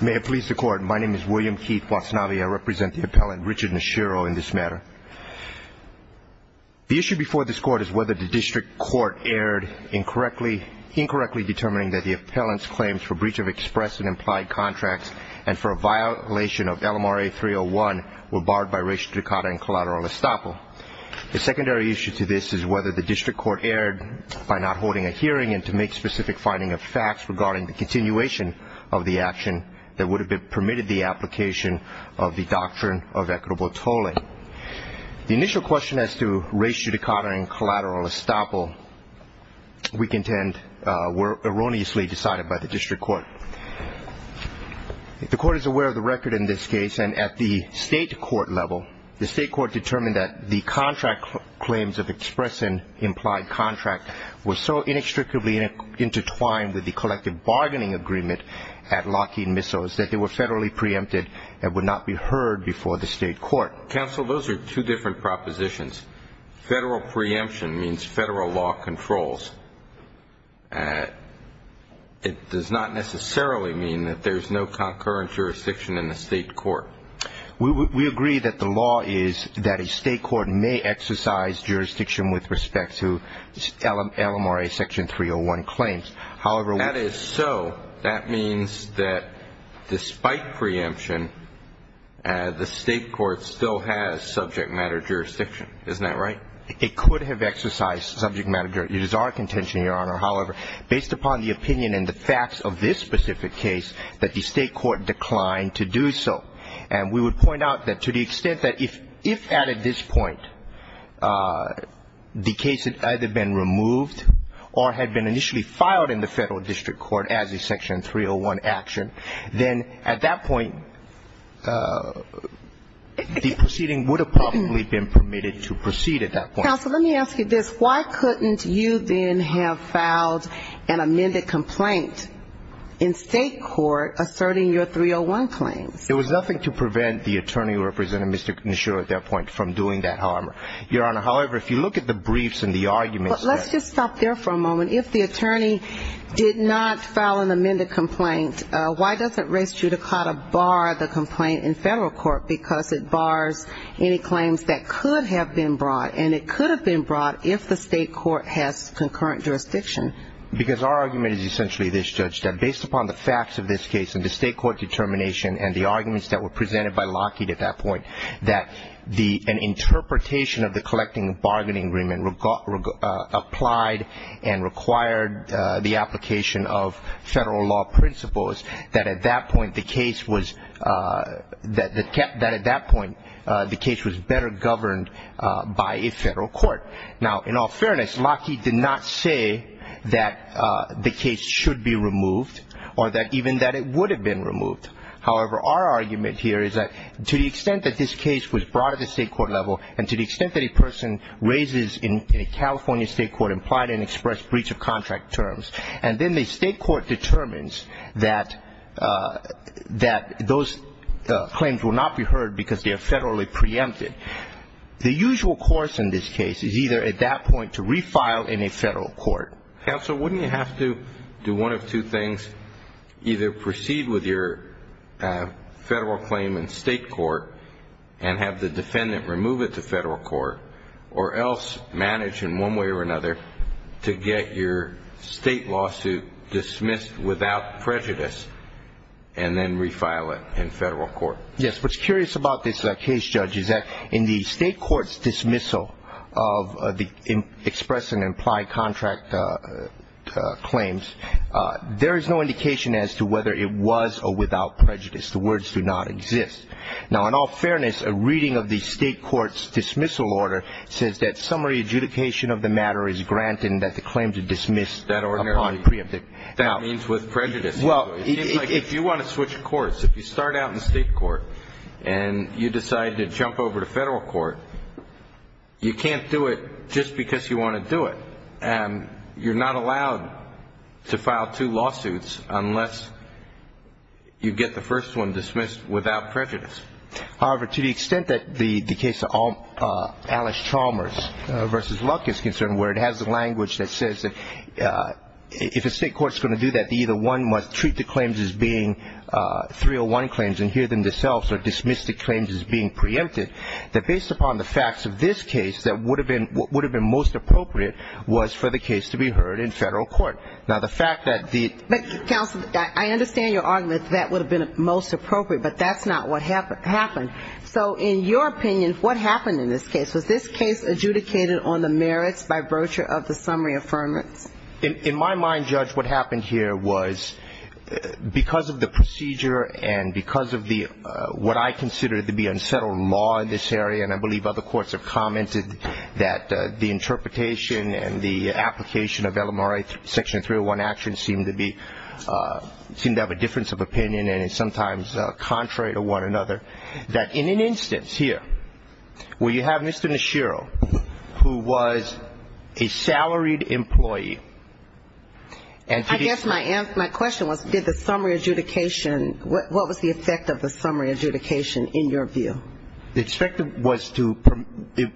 May it please the Court, my name is William Keith Watsnavi. I represent the appellant Richard Nishiro in this matter. The issue before this Court is whether the district court erred incorrectly, incorrectly determining that the appellant's claims for breach of express and implied contracts and for a violation of LMRA 301 were barred by restriction in collateral estoppel. The secondary issue to this is whether the district court erred by not holding a hearing and to make specific finding of facts regarding the continuation of the action that would have been permitted the application of the doctrine of equitable tolling. The initial question as to ratio decada and collateral estoppel we contend were erroneously decided by the district court. The court is aware of the record in this case and at the state court level the state court determined that the contract claims of express and implied contract was so inextricably intertwined with the collective bargaining agreement at Lockheed Missiles that they were federally preempted and would not be heard before the state court. Counsel, those are two different propositions. Federal preemption means federal law controls. It does not necessarily mean that there's no concurrent jurisdiction in the state court. We agree that the law is that a 301 claims. However, that is so that means that despite preemption the state court still has subject matter jurisdiction. Isn't that right? It could have exercised subject matter. It is our contention, your honor. However, based upon the opinion and the facts of this specific case that the state court declined to do so and we would point out that to the extent that if if at this point the case had either been removed or had been initially filed in the federal district court as a section 301 action then at that point the proceeding would have probably been permitted to proceed at that point. Counsel, let me ask you this. Why couldn't you then have filed an amended complaint in state court asserting your 301 claims? There was nothing to prevent the attorney representing Mr. Nishiro at that point from doing that, however. Your honor, however, if you look at the briefs and the arguments. Let's just stop there for a moment. If the attorney did not file an amended complaint, why doesn't race judicata bar the complaint in federal court? Because it bars any claims that could have been brought and it could have been brought if the state court has concurrent jurisdiction. Because our argument is essentially this, judge, that based upon the facts of this case and the state court determination and the attorney representing Mr. Nishiro at that point, that the an interpretation of the collecting bargaining agreement applied and required the application of federal law principles that at that point the case was that kept that at that point the case was better governed by a federal court. Now, in all fairness, Lockheed did not say that the case should be removed or that even that it would have been removed. However, our argument here is that to the extent that this case was brought at the state court level and to the extent that a person raises in a California state court implied and expressed breach of contract terms and then the state court determines that that those claims will not be heard because they are federally preempted. The usual course in this case is either at that point to refile in a federal court. Counsel, wouldn't you have to do one of two things? Either proceed with your federal claim in state court and have the defendant remove it to federal court or else manage in one way or another to get your state lawsuit dismissed without prejudice and then refile it in federal court. Yes, what's curious about this case, judge, is that in the state court's dismissal of the express and implied contract claims, there is no indication as to whether it was or without prejudice. The words do not exist. Now, in all fairness, a reading of the state court's dismissal order says that summary adjudication of the matter is granted and that the claim to dismiss that ordinarily means with prejudice. Well, if you want to switch courts, if you decide to jump over to federal court, you can't do it just because you want to do it and you're not allowed to file two lawsuits unless you get the first one dismissed without prejudice. However, to the extent that the case of Alice Chalmers v. Luck is concerned where it has the language that says that if a state court is going to do that, either one must treat the claims as being 301 claims and hear them themselves or dismiss the claims as being preempted, that based upon the facts of this case, what would have been most appropriate was for the case to be heard in federal court. Now, the fact that the But, counsel, I understand your argument that that would have been most appropriate, but that's not what happened. So in your opinion, what happened in this case? Was this case adjudicated on the merits by virtue of the summary affirmance? In my mind, Judge, what happened here was because of the procedure and because of what I consider to be unsettled law in this area, and I believe other courts have commented that the interpretation and the application of LMRA Section 301 action seemed to have a difference of opinion and is sometimes contrary to one another, that in an instance here where you have Mr. Nishira as an employee and I guess my question was, did the summary adjudication, what was the effect of the summary adjudication in your view? The expected was to,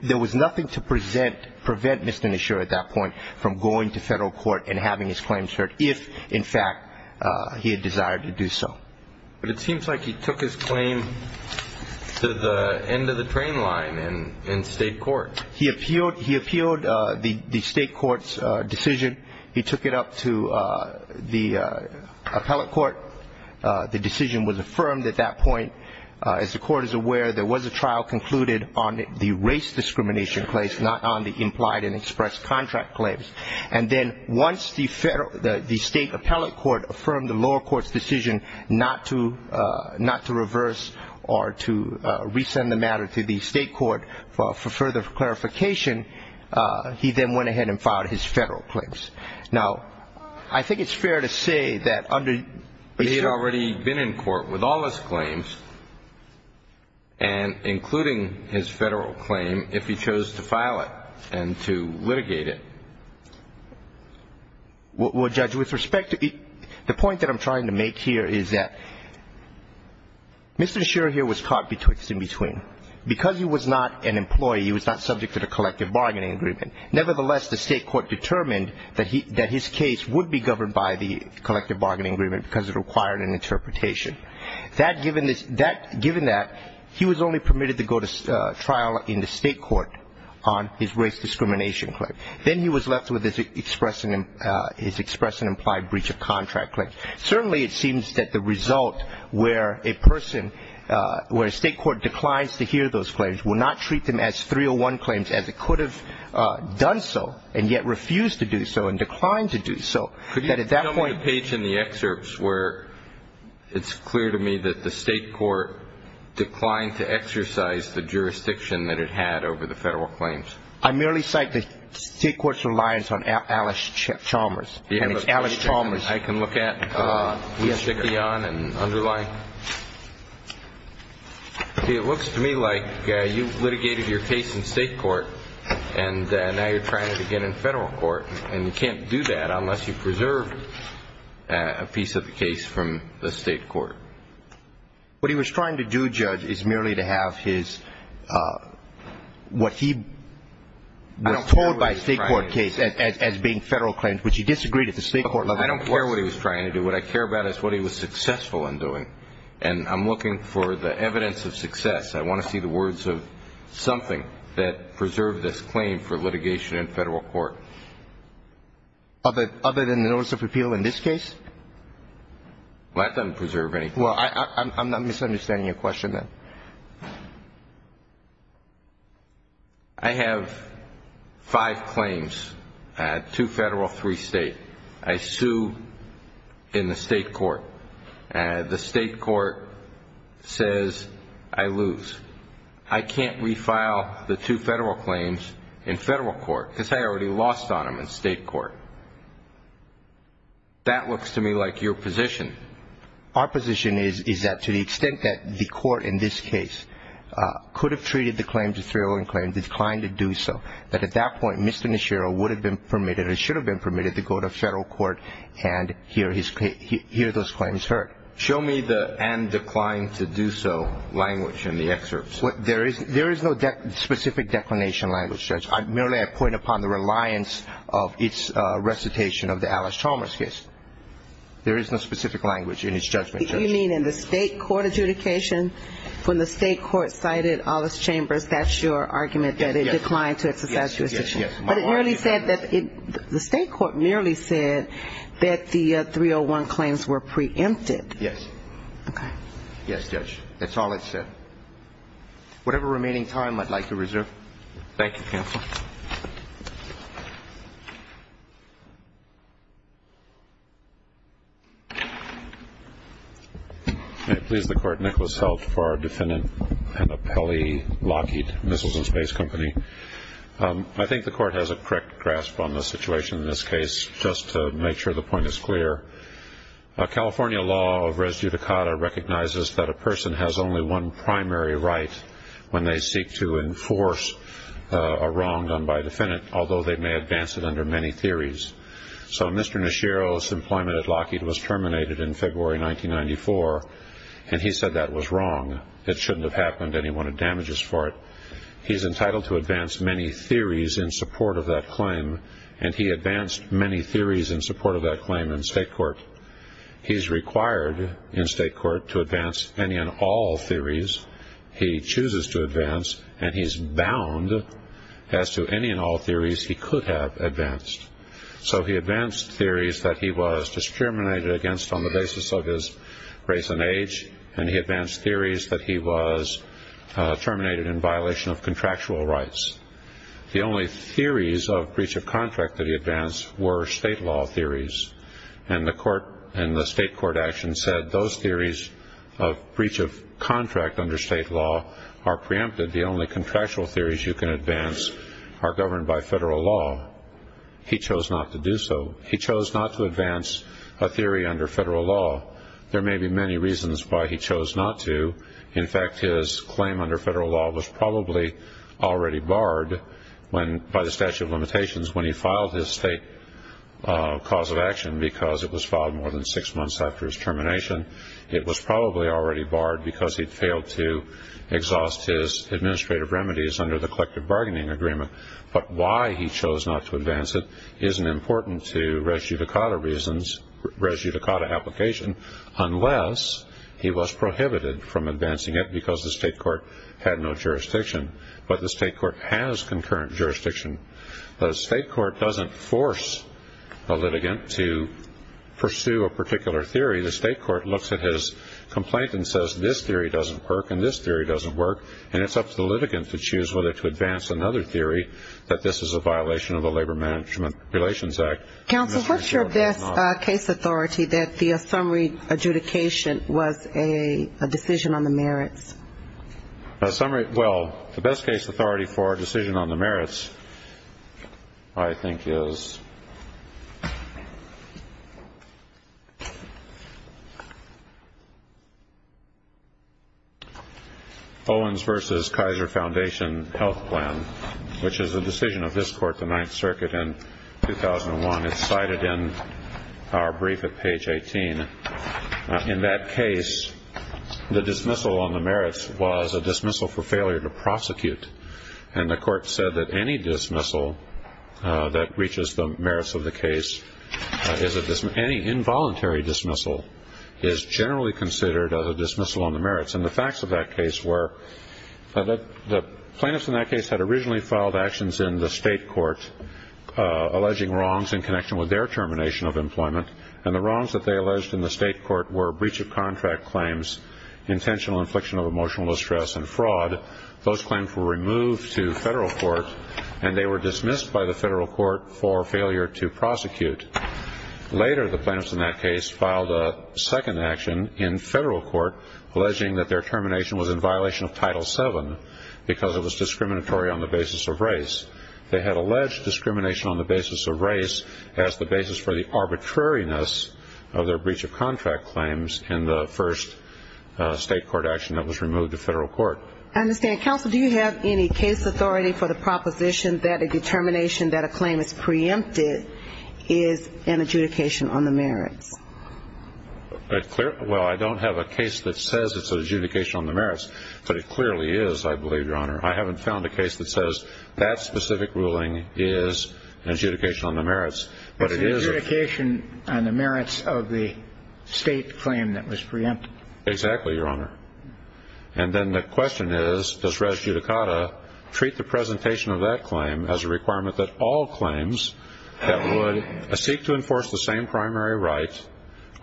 there was nothing to prevent Mr. Nishira at that point from going to federal court and having his claims heard if, in fact, he had desired to do so. But it seems like he took his claim to the end of the train line in state court. He appealed the state court's decision. He took it up to the appellate court. The decision was affirmed at that point. As the court is aware, there was a trial concluded on the race discrimination case, not on the implied and expressed contract claims. And then once the state appellate court affirmed the lower court's decision not to reverse or to resend the matter to the state court for further clarification, he then went ahead and filed his federal claims. Now, I think it's fair to say that under He had already been in court with all his claims and including his federal claim if he chose to file it and to litigate it. Well, Judge, with respect to, the point that I'm trying to make here is that Mr. Sher here was caught in between. Because he was not an employee, he was not subject to the collective bargaining agreement. Nevertheless, the state court determined that his case would be governed by the collective bargaining agreement because it required an interpretation. That given that, he was only permitted to go to trial in the state court on his race discrimination claim. Then he was left with his express and implied breach of contract claim. Certainly, it seems that the result where a person, where a state court declines to hear those claims will not treat them as 301 claims as it could have done so and yet refused to do so and declined to do so. Could you tell me the page in the excerpts where it's clear to me that the state court declined to exercise the jurisdiction that it had over the federal claims? I merely cite the state court's reliance on Alice Chalmers. I can look at the excerpt. It looks to me like you litigated your case in state court and now you're trying it again in federal court and you can't do that unless you've preserved a piece of the case from the state court. What he was trying to do, Judge, is merely to have his, what he was told by the state court case as being federal claims, which he disagreed with. I don't care what he was trying to do. What I care about is what he was successful in doing. And I'm looking for the evidence of success. I want to see the words of something that preserved this claim for litigation in federal court. Other than the notice of repeal in this case? Well, that doesn't preserve anything. Well, I'm not misunderstanding your question then. I have five claims, two federal, three state. I sue in the state court. The state court says I lose. I can't refile the two federal claims in federal court because I already lost on them in state court. That looks to me like your position. Our position is that to the extent that the court in this case could have treated the claims as federal claims, declined to do so, that at that point Mr. Nishiro would have been permitted or should have been permitted to go to federal court and hear those claims heard. Show me the and declined to do so language in the excerpts. There is no specific declination language, Judge. Merely I point upon the reliance of its recitation of the Alice Chalmers case. There is no specific language in his judgment, Judge. You mean in the state court adjudication when the state court cited Alice Chalmers, that's your argument that it declined to exercise jurisdiction? Yes. But it merely said that the state court merely said that the 301 claims were preempted. Yes. Okay. Yes, Judge. That's all it said. Whatever remaining time I'd like to reserve. Thank you, Counsel. Thank you, Counsel. May it please the Court, Nicholas Heldt for our Defendant and Appellee Lockheed Missiles and Space Company. I think the Court has a correct grasp on the situation in this case, just to make sure the point is clear. California law of res judicata recognizes that a person has only one primary right when they seek to enforce a wrong done by a defendant, although they may advance it under many theories. So Mr. Nishiro's employment at Lockheed was terminated in February 1994, and he said that was wrong. It shouldn't have happened, and he wanted damages for it. He's entitled to advance many theories in support of that claim, and he advanced many theories in support of that claim in state court. He's required in state court to advance any and all theories. He chooses to advance, and he's bound as to any and all theories he could have advanced. So he advanced theories that he was discriminated against on the basis of his race and age, and he advanced theories that he was terminated in violation of contractual rights. The only theories of breach of contract that he advanced were state law theories, and the state court action said those theories of breach of contract under state law are preempted. The only contractual theories you can advance are governed by federal law. He chose not to do so. He chose not to advance a theory under federal law. There may be many reasons why he chose not to. In fact, his claim under federal law was probably already barred by the statute of limitations when he filed his state cause of action because it was filed more than six months after his termination. It was probably already barred because he'd failed to exhaust his administrative remedies under the collective bargaining agreement. But why he chose not to advance it isn't important to res judicata reasons, res judicata application, unless he was prohibited from advancing it because the state court had no jurisdiction. But the state court has concurrent jurisdiction. The state court doesn't force a litigant to pursue a particular theory. The state court looks at his complaint and says this theory doesn't work and this theory doesn't work, and it's up to the litigant to choose whether to advance another theory, that this is a violation of the Labor Management Relations Act. Counsel, what's your best case authority that the summary adjudication was a decision on the merits? Well, the best case authority for a decision on the merits I think is Owens v. Kaiser Foundation Health Plan, which is a decision of this court, the Ninth Circuit, in 2001. It's cited in our brief at page 18. In that case, the dismissal on the merits was a dismissal for failure to prosecute, and the court said that any dismissal that reaches the merits of the case, any involuntary dismissal is generally considered as a dismissal on the merits. And the facts of that case were the plaintiffs in that case had originally filed actions in the state court alleging wrongs in connection with their termination of employment, and the wrongs that they alleged in the state court were breach of contract claims, intentional infliction of emotional distress, and fraud. Those claims were removed to federal court, and they were dismissed by the federal court for failure to prosecute. Later, the plaintiffs in that case filed a second action in federal court alleging that their termination was in violation of Title VII because it was discriminatory on the basis of race. They had alleged discrimination on the basis of race as the basis for the arbitrariness of their breach of contract claims in the first state court action that was removed to federal court. I understand. Counsel, do you have any case authority for the proposition that a determination that a claim is preempted is an adjudication on the merits? Well, I don't have a case that says it's an adjudication on the merits, but it clearly is, I believe, Your Honor. I haven't found a case that says that specific ruling is an adjudication on the merits, but it is. It's an adjudication on the merits of the state claim that was preempted. Exactly, Your Honor. And then the question is, does res judicata treat the presentation of that claim as a requirement that all claims that would seek to enforce the same primary right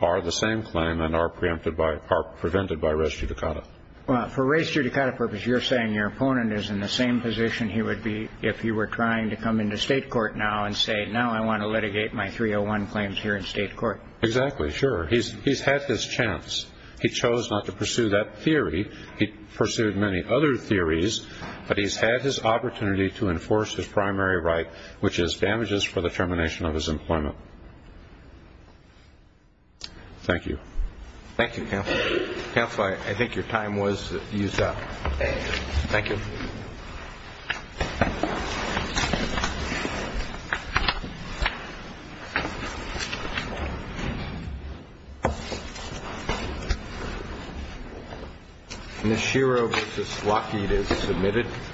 are the same claim and are prevented by res judicata? Well, for res judicata purposes, you're saying your opponent is in the same position he would be if he were trying to come into state court now and say, now I want to litigate my 301 claims here in state court. Exactly. Sure. He's had his chance. He chose not to pursue that theory. He pursued many other theories, but he's had his opportunity to enforce his primary right, Thank you. Thank you, counsel. Counsel, I think your time was used up. Thank you. Thank you.